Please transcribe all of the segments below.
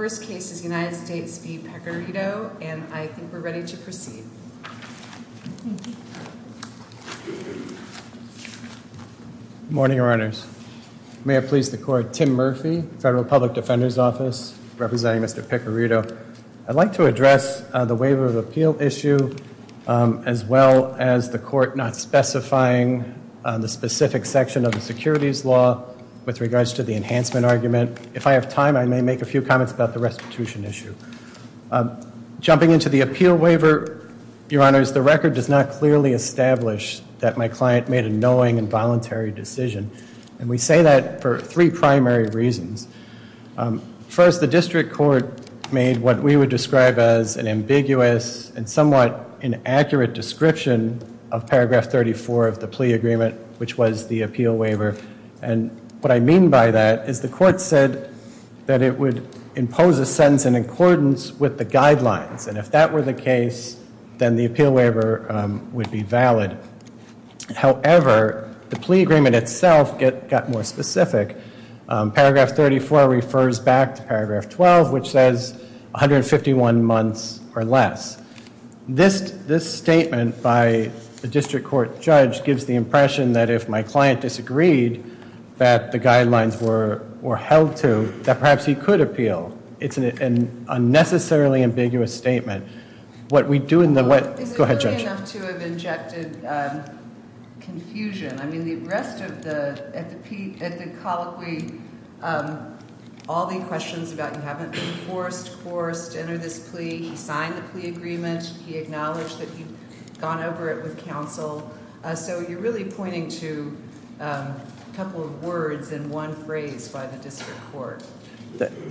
The first case is United States v. Piccarreto, and I think we're ready to proceed. Good morning, Your Honors. May it please the Court, Tim Murphy, Federal Public Defender's Office, representing Mr. Piccarreto. I'd like to address the waiver of appeal issue, as well as the Court not specifying the specific section of the securities law with regards to the enhancement argument. If I have time, I may make a few comments about the restitution issue. Jumping into the appeal waiver, Your Honors, the record does not clearly establish that my client made a knowing and voluntary decision. And we say that for three primary reasons. First, the district court made what we would describe as an ambiguous and somewhat inaccurate description of paragraph 34 of the plea agreement, which was the appeal waiver. And what I mean by that is the Court said that it would impose a sentence in accordance with the guidelines. And if that were the case, then the appeal waiver would be valid. However, the plea agreement itself got more specific. Paragraph 34 refers back to paragraph 12, which says 151 months or less. This statement by the district court judge gives the impression that if my client disagreed, that the guidelines were held to, that perhaps he could appeal. It's an unnecessarily ambiguous statement. What we do in the- Go ahead, Judge. It's likely enough to have injected confusion. I mean, the rest of the-at the colloquy, all the questions about you haven't been forced, forced to enter this plea. He signed the plea agreement. He acknowledged that he'd gone over it with counsel. So you're really pointing to a couple of words and one phrase by the district court.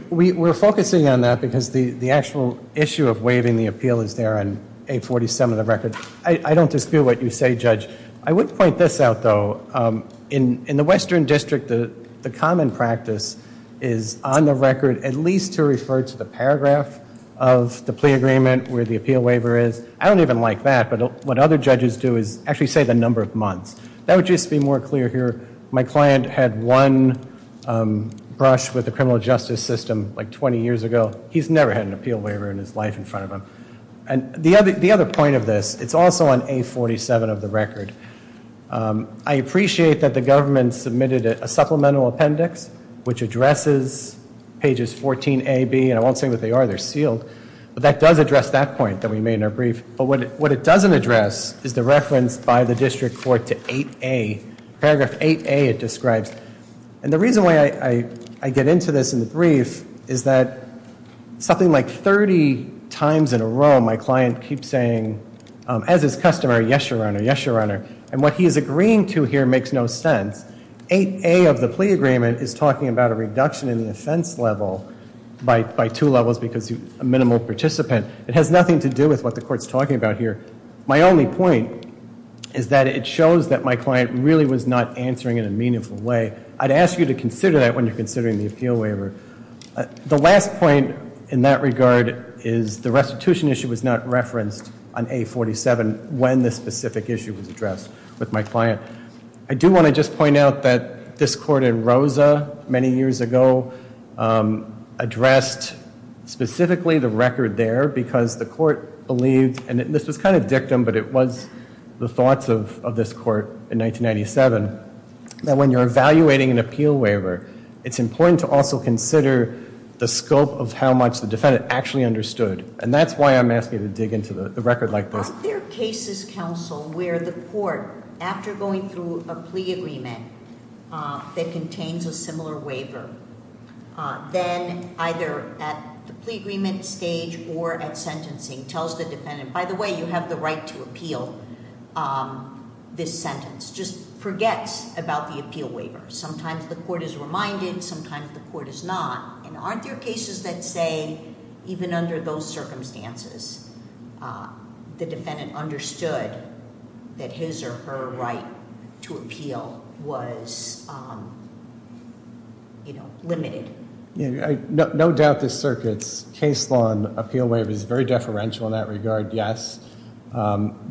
We're focusing on that because the actual issue of waiving the appeal is there on 847 of the record. I don't dispute what you say, Judge. I would point this out, though. In the Western District, the common practice is on the record at least to refer to the paragraph of the plea agreement where the appeal waiver is. I don't even like that. But what other judges do is actually say the number of months. That would just be more clear here. My client had one brush with the criminal justice system like 20 years ago. He's never had an appeal waiver in his life in front of him. And the other point of this, it's also on 847 of the record. I appreciate that the government submitted a supplemental appendix which addresses pages 14a, b. And I won't say what they are. They're sealed. But that does address that point that we made in our brief. But what it doesn't address is the reference by the district court to 8a. Paragraph 8a it describes. And the reason why I get into this in the brief is that something like 30 times in a row my client keeps saying, as is customary, yes, Your Honor. Yes, Your Honor. And what he is agreeing to here makes no sense. 8a of the plea agreement is talking about a reduction in the offense level by two levels because a minimal participant. It has nothing to do with what the court is talking about here. My only point is that it shows that my client really was not answering in a meaningful way. I'd ask you to consider that when you're considering the appeal waiver. The last point in that regard is the restitution issue was not referenced on 847 when this specific issue was addressed with my client. I do want to just point out that this court in Rosa many years ago addressed specifically the record there because the court believed, and this was kind of dictum, but it was the thoughts of this court in 1997, that when you're evaluating an appeal waiver, it's important to also consider the scope of how much the defendant actually understood. And that's why I'm asking you to dig into the record like this. Are there cases, counsel, where the court, after going through a plea agreement that contains a similar waiver, then either at the plea agreement stage or at sentencing tells the defendant, by the way, you have the right to appeal this sentence, just forgets about the appeal waiver. Sometimes the court is reminded, sometimes the court is not. And aren't there cases that say, even under those circumstances, the defendant understood that his or her right to appeal was limited? No doubt this circuits case law and appeal waiver is very deferential in that regard, yes.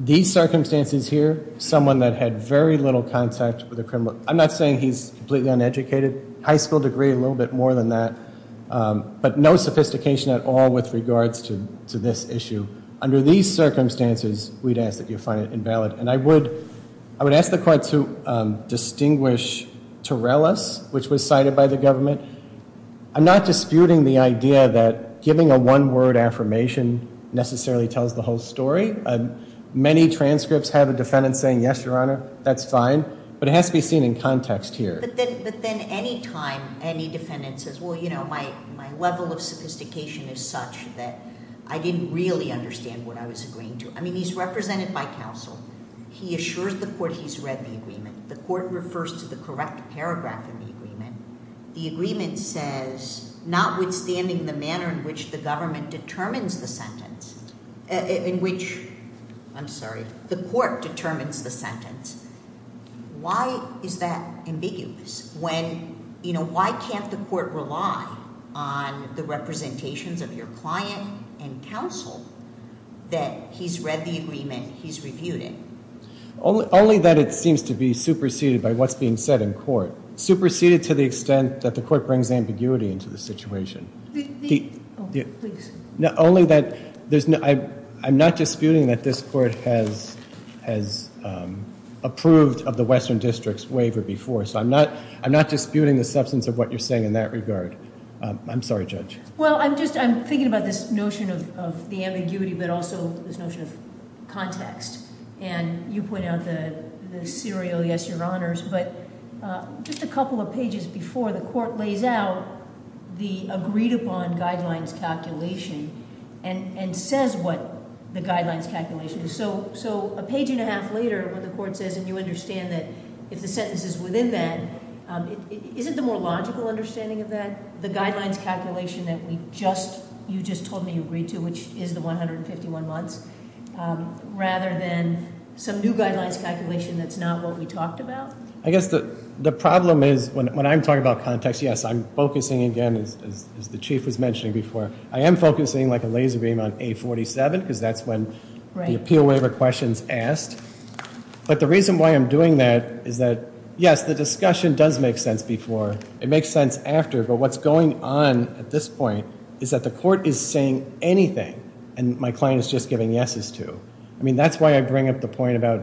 These circumstances here, someone that had very little contact with a criminal, I'm not saying he's completely uneducated, high school degree, a little bit more than that, but no sophistication at all with regards to this issue. Under these circumstances, we'd ask that you find it invalid. And I would ask the court to distinguish Torellis, which was cited by the government. I'm not disputing the idea that giving a one-word affirmation necessarily tells the whole story. Many transcripts have a defendant saying, yes, Your Honor, that's fine. But it has to be seen in context here. But then any time any defendant says, well, you know, my level of sophistication is such that I didn't really understand what I was agreeing to. I mean, he's represented by counsel. He assures the court he's read the agreement. The court refers to the correct paragraph in the agreement. The agreement says, notwithstanding the manner in which the government determines the sentence, in which, I'm sorry, the court determines the sentence. Why is that ambiguous when, you know, why can't the court rely on the representations of your client and counsel that he's read the agreement, he's reviewed it? Only that it seems to be superseded by what's being said in court, superseded to the extent that the court brings ambiguity into the situation. Please. Only that I'm not disputing that this court has approved of the Western District's waiver before. So I'm not disputing the substance of what you're saying in that regard. I'm sorry, Judge. Well, I'm thinking about this notion of the ambiguity but also this notion of context. And you point out the serial, yes, Your Honors. But just a couple of pages before the court lays out the agreed-upon guidelines calculation and says what the guidelines calculation is. So a page and a half later when the court says, and you understand that if the sentence is within that, isn't the more logical understanding of that the guidelines calculation that we just, you just told me you agreed to, which is the 151 months, rather than some new guidelines calculation that's not what we talked about? I guess the problem is when I'm talking about context, yes, I'm focusing again, as the Chief was mentioning before, I am focusing like a laser beam on A-47 because that's when the appeal waiver question's asked. But the reason why I'm doing that is that, yes, the discussion does make sense before. It makes sense after. But what's going on at this point is that the court is saying anything. And my client is just giving yeses to. I mean, that's why I bring up the point about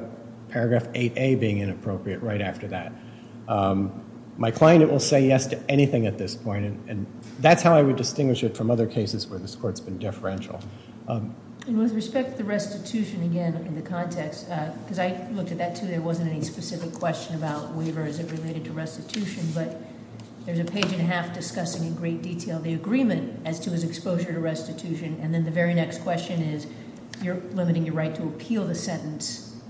paragraph 8A being inappropriate right after that. My client will say yes to anything at this point. And that's how I would distinguish it from other cases where this court's been deferential. And with respect to restitution, again, in the context, because I looked at that too. There wasn't any specific question about waiver as it related to restitution. But there's a page and a half discussing in great detail the agreement as to his exposure to restitution. And then the very next question is, you're limiting your right to appeal the sentence,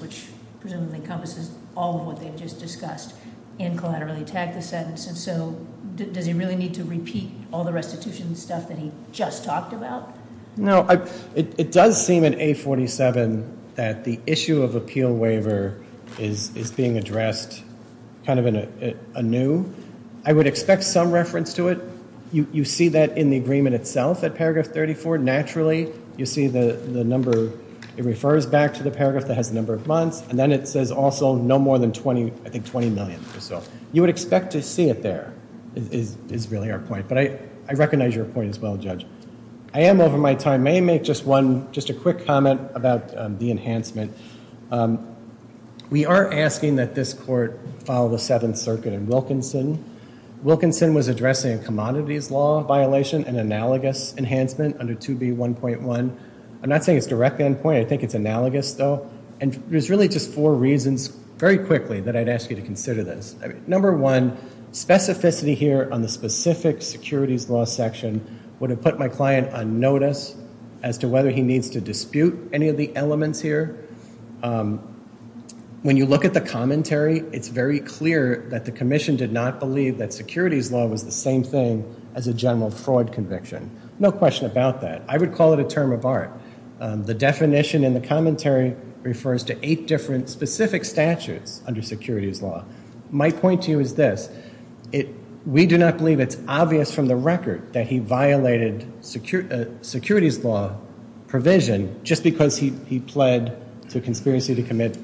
which presumably encompasses all of what they've just discussed, and collaterally attack the sentence. And so does he really need to repeat all the restitution stuff that he just talked about? No. It does seem in A47 that the issue of appeal waiver is being addressed kind of an anew. I would expect some reference to it. You see that in the agreement itself at paragraph 34. Naturally, you see the number. It refers back to the paragraph that has the number of months. And then it says also no more than, I think, $20 million or so. You would expect to see it there is really our point. But I recognize your point as well, Judge. I am over my time. May I make just a quick comment about the enhancement? We are asking that this court follow the Seventh Circuit and Wilkinson. Wilkinson was addressing a commodities law violation, an analogous enhancement under 2B1.1. I'm not saying it's directly on point. I think it's analogous, though. And there's really just four reasons very quickly that I'd ask you to consider this. Number one, specificity here on the specific securities law section would have put my client on notice as to whether he needs to dispute any of the elements here. When you look at the commentary, it's very clear that the commission did not believe that securities law was the same thing as a general fraud conviction. No question about that. I would call it a term of art. The definition in the commentary refers to eight different specific statutes under securities law. My point to you is this. We do not believe it's obvious from the record that he violated securities law provision just because he pled to conspiracy to commit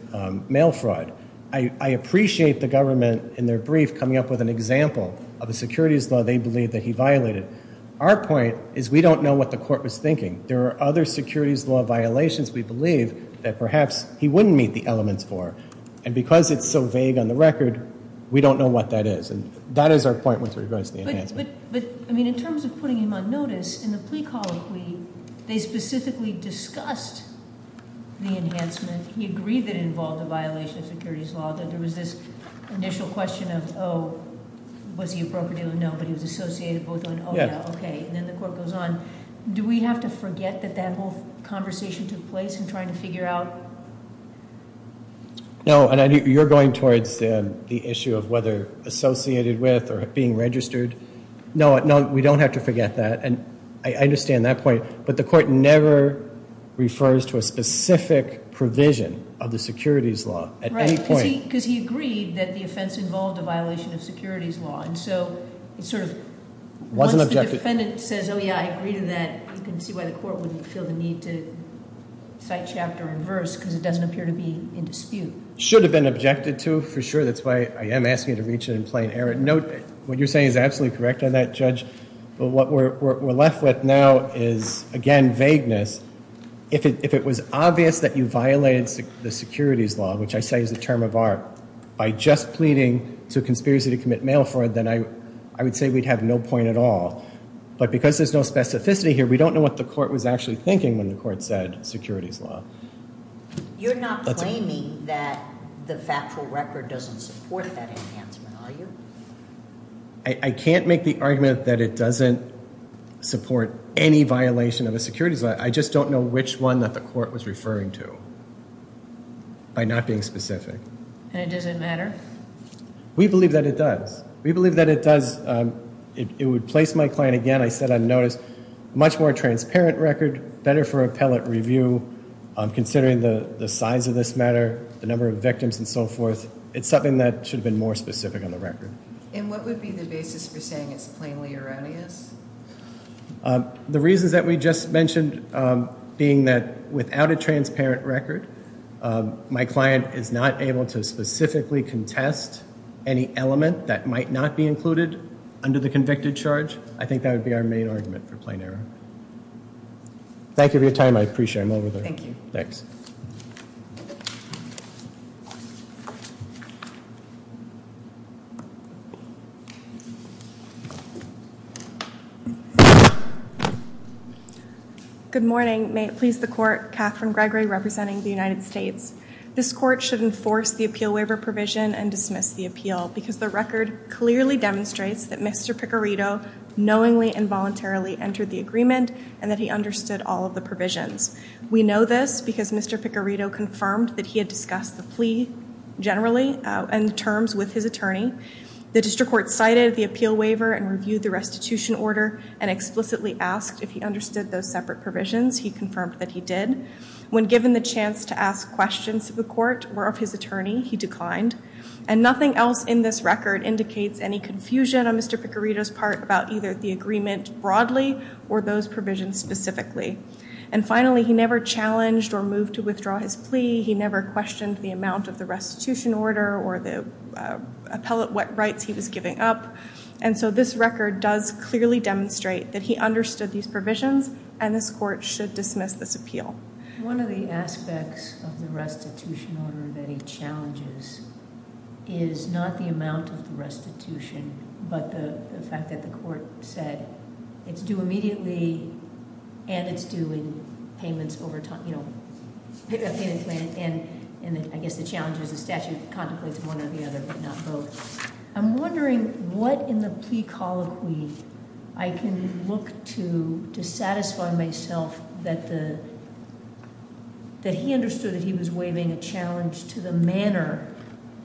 mail fraud. I appreciate the government in their brief coming up with an example of a securities law they believe that he violated. Our point is we don't know what the court was thinking. There are other securities law violations we believe that perhaps he wouldn't meet the elements for. And because it's so vague on the record, we don't know what that is. And that is our point with regards to the enhancement. But, I mean, in terms of putting him on notice, in the plea colloquy, they specifically discussed the enhancement. He agreed that it involved a violation of securities law, that there was this initial question of, oh, was he a broker-dealer? No, but he was associated both on, oh, yeah, okay. And then the court goes on. Do we have to forget that that whole conversation took place in trying to figure out? No, and you're going towards the issue of whether associated with or being registered. No, we don't have to forget that. And I understand that point. But the court never refers to a specific provision of the securities law at any point. Right, because he agreed that the offense involved a violation of securities law. And so it sort of, once the defendant says, oh, yeah, I agree to that, you can see why the court wouldn't feel the need to cite chapter and verse, because it doesn't appear to be in dispute. Should have been objected to, for sure. That's why I am asking you to reach it in plain error. No, what you're saying is absolutely correct on that, Judge. But what we're left with now is, again, vagueness. If it was obvious that you violated the securities law, which I say is a term of art, by just pleading to conspiracy to commit mail fraud, then I would say we'd have no point at all. But because there's no specificity here, we don't know what the court was actually thinking when the court said securities law. You're not claiming that the factual record doesn't support that enhancement, are you? I can't make the argument that it doesn't support any violation of the securities law. I just don't know which one that the court was referring to, by not being specific. And it doesn't matter? We believe that it does. We believe that it does. It would place my client, again, I said on notice, much more transparent record, better for appellate review, considering the size of this matter, the number of victims and so forth. It's something that should have been more specific on the record. And what would be the basis for saying it's plainly erroneous? The reasons that we just mentioned being that without a transparent record, my client is not able to specifically contest any element that might not be included under the convicted charge. I think that would be our main argument for plain error. Thank you for your time. I appreciate it. Thank you. Thanks. Good morning. May it please the court, Catherine Gregory representing the United States. This court should enforce the appeal waiver provision and dismiss the appeal because the record clearly demonstrates that Mr. Picarito knowingly and voluntarily entered the agreement and that he understood all of the provisions. We know this because Mr. Picarito confirmed that he had discussed the plea generally and the terms with his attorney. The district court cited the appeal waiver and reviewed the restitution order and explicitly asked if he understood those separate provisions. He confirmed that he did. When given the chance to ask questions of the court or of his attorney, he declined. And nothing else in this record indicates any confusion on Mr. Picarito's part about either the agreement broadly or those provisions specifically. And finally, he never challenged or moved to withdraw his plea. He never questioned the amount of the restitution order or the appellate rights he was giving up. And so this record does clearly demonstrate that he understood these provisions and this court should dismiss this appeal. One of the aspects of the restitution order that he challenges is not the amount of the restitution but the fact that the court said it's due immediately and it's due in payments over time, and I guess the challenge is the statute contemplates one or the other but not both. I'm wondering what in the plea colloquy I can look to to satisfy myself that he understood that he was waiving a challenge to the manner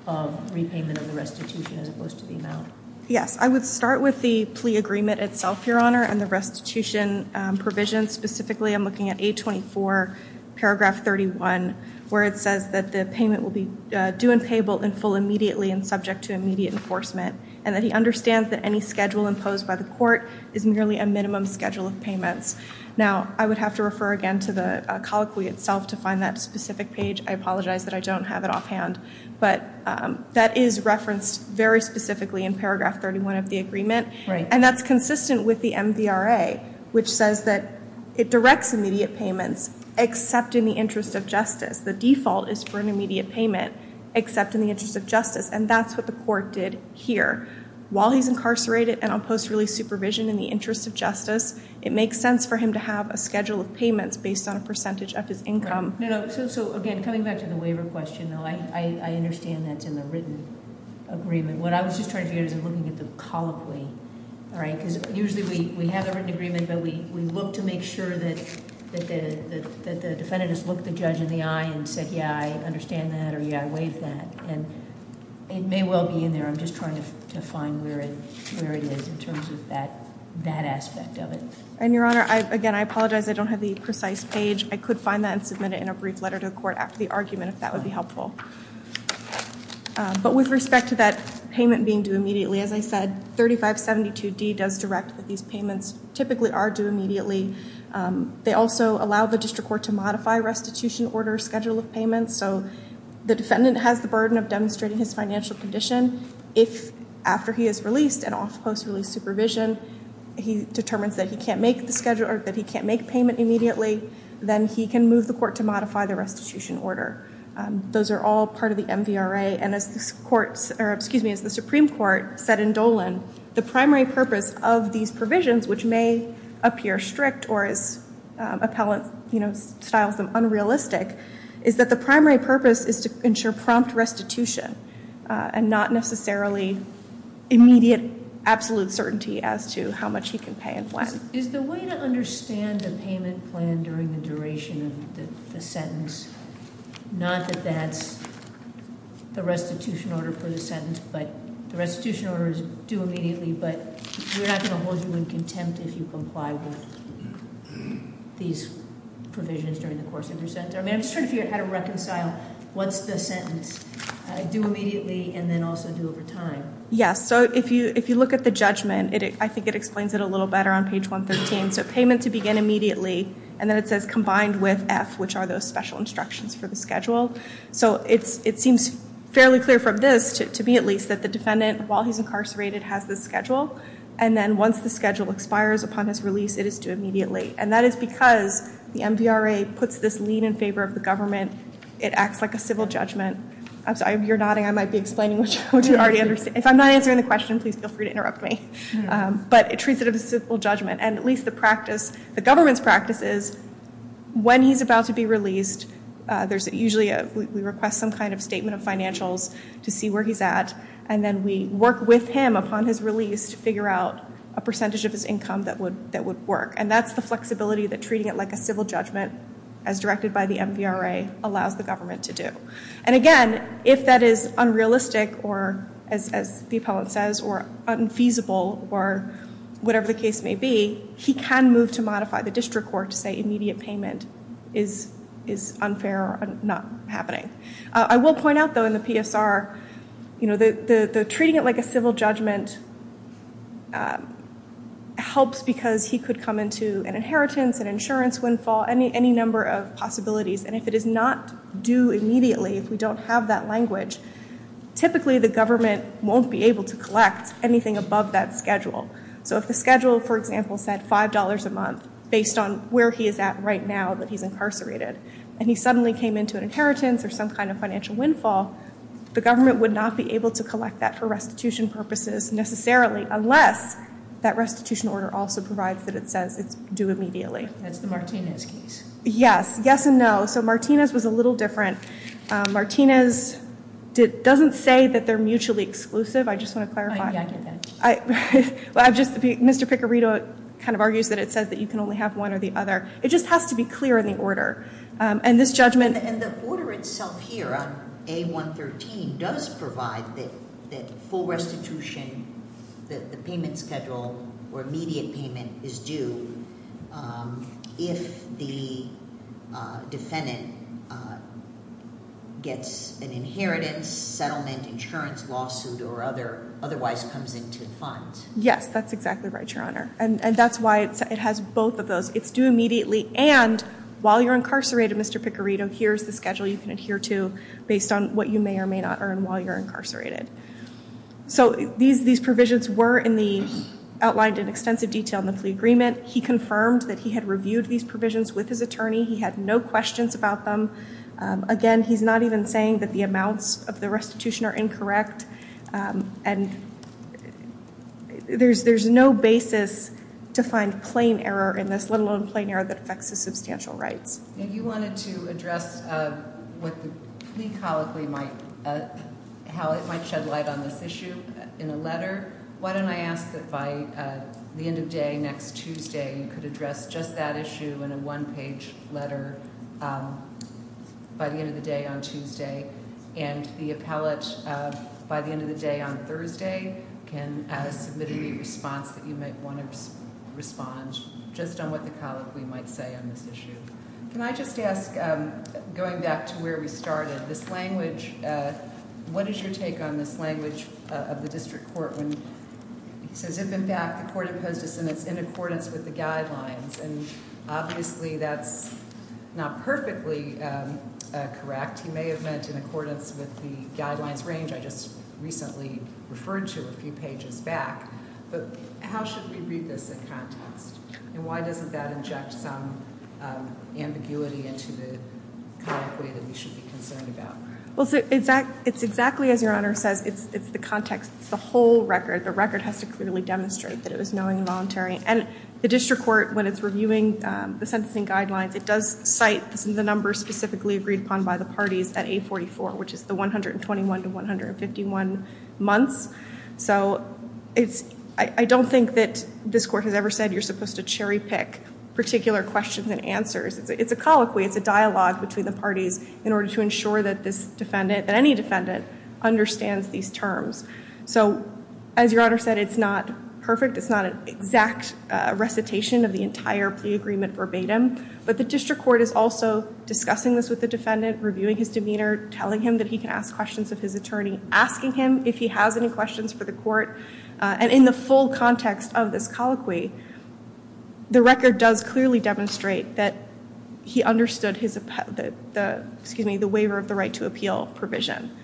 of repayment of the restitution as opposed to the amount. Yes, I would start with the plea agreement itself, Your Honor, and the restitution provision. Specifically, I'm looking at 824 paragraph 31 where it says that the payment will be due and payable in full immediately and subject to immediate enforcement and that he understands that any schedule imposed by the court is merely a minimum schedule of payments. Now, I would have to refer again to the colloquy itself to find that specific page. I apologize that I don't have it offhand. But that is referenced very specifically in paragraph 31 of the agreement, and that's consistent with the MVRA which says that it directs immediate payments except in the interest of justice. The default is for an immediate payment except in the interest of justice, and that's what the court did here. While he's incarcerated and on post release supervision in the interest of justice, it makes sense for him to have a schedule of payments based on a percentage of his income. So again, coming back to the waiver question, I understand that's in the written agreement. What I was just trying to figure out is I'm looking at the colloquy, all right? Because usually we have a written agreement, but we look to make sure that the defendant has looked the judge in the eye and said, yeah, I understand that or, yeah, I waive that. And it may well be in there. I'm just trying to find where it is in terms of that aspect of it. And, Your Honor, again, I apologize I don't have the precise page. I could find that and submit it in a brief letter to the court after the argument if that would be helpful. But with respect to that payment being due immediately, as I said, 3572D does direct that these payments typically are due immediately. They also allow the district court to modify restitution order schedule of payments. So the defendant has the burden of demonstrating his financial condition. If after he is released and off post release supervision, he determines that he can't make the schedule or that he can't make payment immediately, then he can move the court to modify the restitution order. Those are all part of the MVRA. And as the Supreme Court said in Dolan, the primary purpose of these provisions, which may appear strict or as appellant styles them, unrealistic, is that the primary purpose is to ensure prompt restitution and not necessarily immediate absolute certainty as to how much he can pay and when. Is the way to understand the payment plan during the duration of the sentence, not that that's the restitution order for the sentence, but the restitution order is due immediately, but we're not going to hold you in contempt if you comply with these provisions during the course of your sentence. I'm just trying to figure out how to reconcile what's the sentence, due immediately and then also due over time. Yes, so if you look at the judgment, I think it explains it a little better on page 113. So payment to begin immediately, and then it says combined with F, which are those special instructions for the schedule. So it seems fairly clear from this, to me at least, that the defendant, while he's incarcerated, has this schedule. And then once the schedule expires upon his release, it is due immediately. And that is because the MVRA puts this lien in favor of the government. It acts like a civil judgment. I'm sorry, you're nodding. I might be explaining what you already understand. If I'm not answering the question, please feel free to interrupt me. But it treats it as a civil judgment. And at least the practice, the government's practice is when he's about to be released, usually we request some kind of statement of financials to see where he's at. And then we work with him upon his release to figure out a percentage of his income that would work. And that's the flexibility that treating it like a civil judgment, as directed by the MVRA, allows the government to do. And again, if that is unrealistic, or as the appellant says, or unfeasible, or whatever the case may be, he can move to modify the district court to say immediate payment is unfair or not happening. I will point out, though, in the PSR, the treating it like a civil judgment helps because he could come into an inheritance, an insurance windfall, any number of possibilities. And if it is not due immediately, if we don't have that language, typically the government won't be able to collect anything above that schedule. So if the schedule, for example, said $5 a month based on where he is at right now that he's incarcerated, and he suddenly came into an inheritance or some kind of financial windfall, the government would not be able to collect that for restitution purposes necessarily unless that restitution order also provides that it says it's due immediately. That's the Martinez case. Yes. Yes and no. So Martinez was a little different. Martinez doesn't say that they're mutually exclusive. I just want to clarify. I get that. Mr. Picarito kind of argues that it says that you can only have one or the other. It just has to be clear in the order. And this judgment- And the order itself here on A113 does provide that full restitution, that the payment schedule or immediate payment is due if the defendant gets an inheritance, settlement, insurance, lawsuit, or otherwise comes into the funds. Yes, that's exactly right, Your Honor. And that's why it has both of those. It's due immediately and while you're incarcerated, Mr. Picarito, here's the schedule you can adhere to based on what you may or may not earn while you're incarcerated. So these provisions were outlined in extensive detail in the plea agreement. He confirmed that he had reviewed these provisions with his attorney. He had no questions about them. Again, he's not even saying that the amounts of the restitution are incorrect. And there's no basis to find plain error in this, let alone plain error that affects his substantial rights. If you wanted to address what the plea colloquy might shed light on this issue in a letter, why don't I ask that by the end of day next Tuesday you could address just that issue in a one-page letter by the end of the day on Tuesday. And the appellate, by the end of the day on Thursday, can submit any response that you might want to respond just on what the colloquy might say on this issue. Can I just ask, going back to where we started, this language, what is your take on this language of the district court? He says, if, in fact, the court imposed a sentence in accordance with the guidelines, and obviously that's not perfectly correct. He may have meant in accordance with the guidelines range I just recently referred to a few pages back. But how should we read this in context? And why doesn't that inject some ambiguity into the colloquy that we should be concerned about? Well, it's exactly as Your Honor says. It's the context. It's the whole record. The record has to clearly demonstrate that it was knowing and voluntary. And the district court, when it's reviewing the sentencing guidelines, it does cite the numbers specifically agreed upon by the parties at 844, which is the 121 to 151 months. So I don't think that this court has ever said you're supposed to cherry pick particular questions and answers. It's a colloquy. It's a dialogue between the parties in order to ensure that this defendant, that any defendant, understands these terms. So as Your Honor said, it's not perfect. It's not an exact recitation of the entire plea agreement verbatim. But the district court is also discussing this with the defendant, reviewing his demeanor, telling him that he can ask questions of his attorney, asking him if he has any questions for the court. And in the full context of this colloquy, the record does clearly demonstrate that he understood the waiver of the right to appeal provision,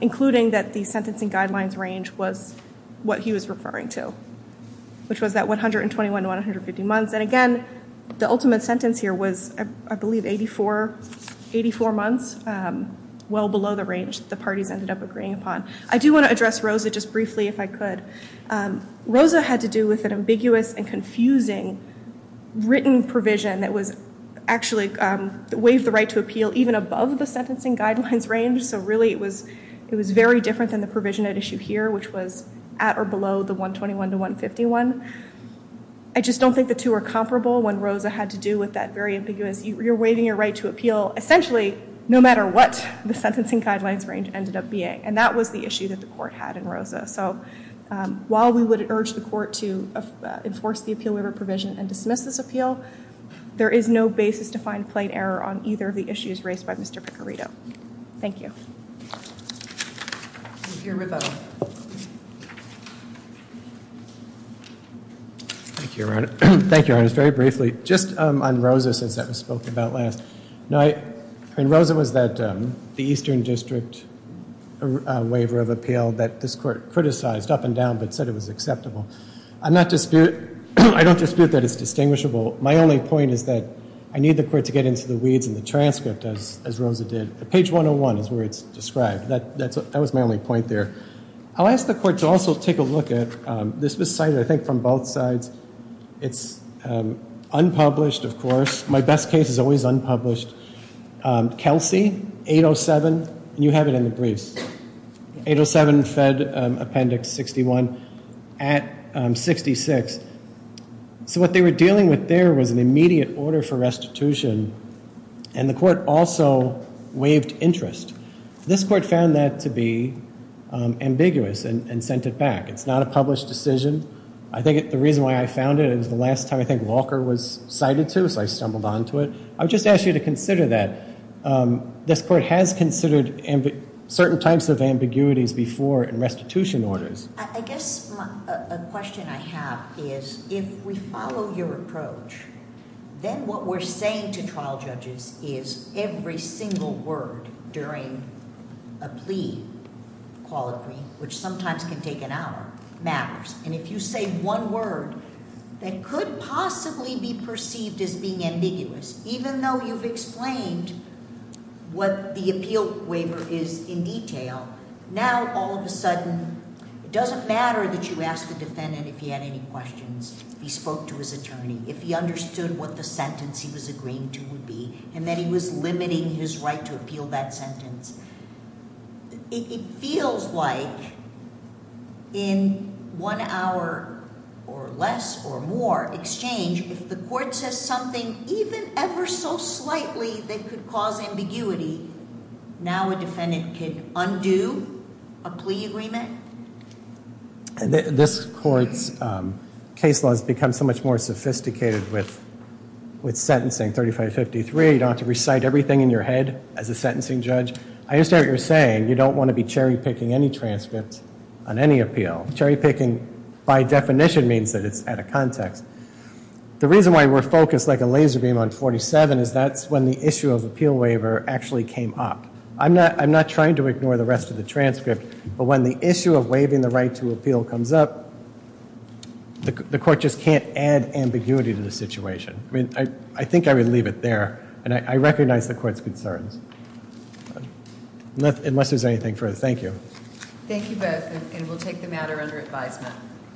including that the sentencing guidelines range was what he was referring to, which was that 121 to 150 months. And again, the ultimate sentence here was, I believe, 84 months, well below the range the parties ended up agreeing upon. I do want to address Rosa just briefly, if I could. Rosa had to do with an ambiguous and confusing written provision that actually waived the right to appeal even above the sentencing guidelines range. So really, it was very different than the provision at issue here, which was at or below the 121 to 151. I just don't think the two are comparable when Rosa had to do with that very ambiguous, you're waiving your right to appeal, essentially, no matter what the sentencing guidelines range ended up being. And that was the issue that the court had in Rosa. So while we would urge the court to enforce the appeal waiver provision and dismiss this appeal, there is no basis to find plain error on either of the issues raised by Mr. Picarito. Thank you. Thank you, Your Honor. Very briefly, just on Rosa since that was spoken about last. Rosa was that the Eastern District waiver of appeal that this court criticized up and down but said it was acceptable. I don't dispute that it's distinguishable. My only point is that I need the court to get into the weeds in the transcript, as Rosa did. Page 101 is where it's described. That was my only point there. I'll ask the court to also take a look at this was cited, I think, from both sides. It's unpublished, of course. My best case is always unpublished. Kelsey, 807, and you have it in the briefs. 807 Fed Appendix 61 at 66. So what they were dealing with there was an immediate order for restitution, and the court also waived interest. This court found that to be ambiguous and sent it back. It's not a published decision. I think the reason why I found it is the last time I think Walker was cited to, so I stumbled onto it. I would just ask you to consider that. This court has considered certain types of ambiguities before in restitution orders. I guess a question I have is if we follow your approach, then what we're saying to trial judges is every single word during a plea, call it plea, which sometimes can take an hour, matters. And if you say one word that could possibly be perceived as being ambiguous, even though you've explained what the appeal waiver is in detail, now all of a sudden it doesn't matter that you ask the defendant if he had any questions, if he spoke to his attorney, if he understood what the sentence he was agreeing to would be, and that he was limiting his right to appeal that sentence. It feels like in one hour or less or more exchange, if the court says something even ever so slightly that could cause ambiguity, now a defendant can undo a plea agreement? This court's case law has become so much more sophisticated with sentencing, 3553. You don't have to recite everything in your head as a sentencing judge. I understand what you're saying. You don't want to be cherry-picking any transcript on any appeal. Cherry-picking by definition means that it's out of context. The reason why we're focused like a laser beam on 47 is that's when the issue of appeal waiver actually came up. I'm not trying to ignore the rest of the transcript, but when the issue of waiving the right to appeal comes up, the court just can't add ambiguity to the situation. I think I would leave it there, and I recognize the court's concerns. Unless there's anything further. Thank you. Thank you both, and we'll take the matter under advisement.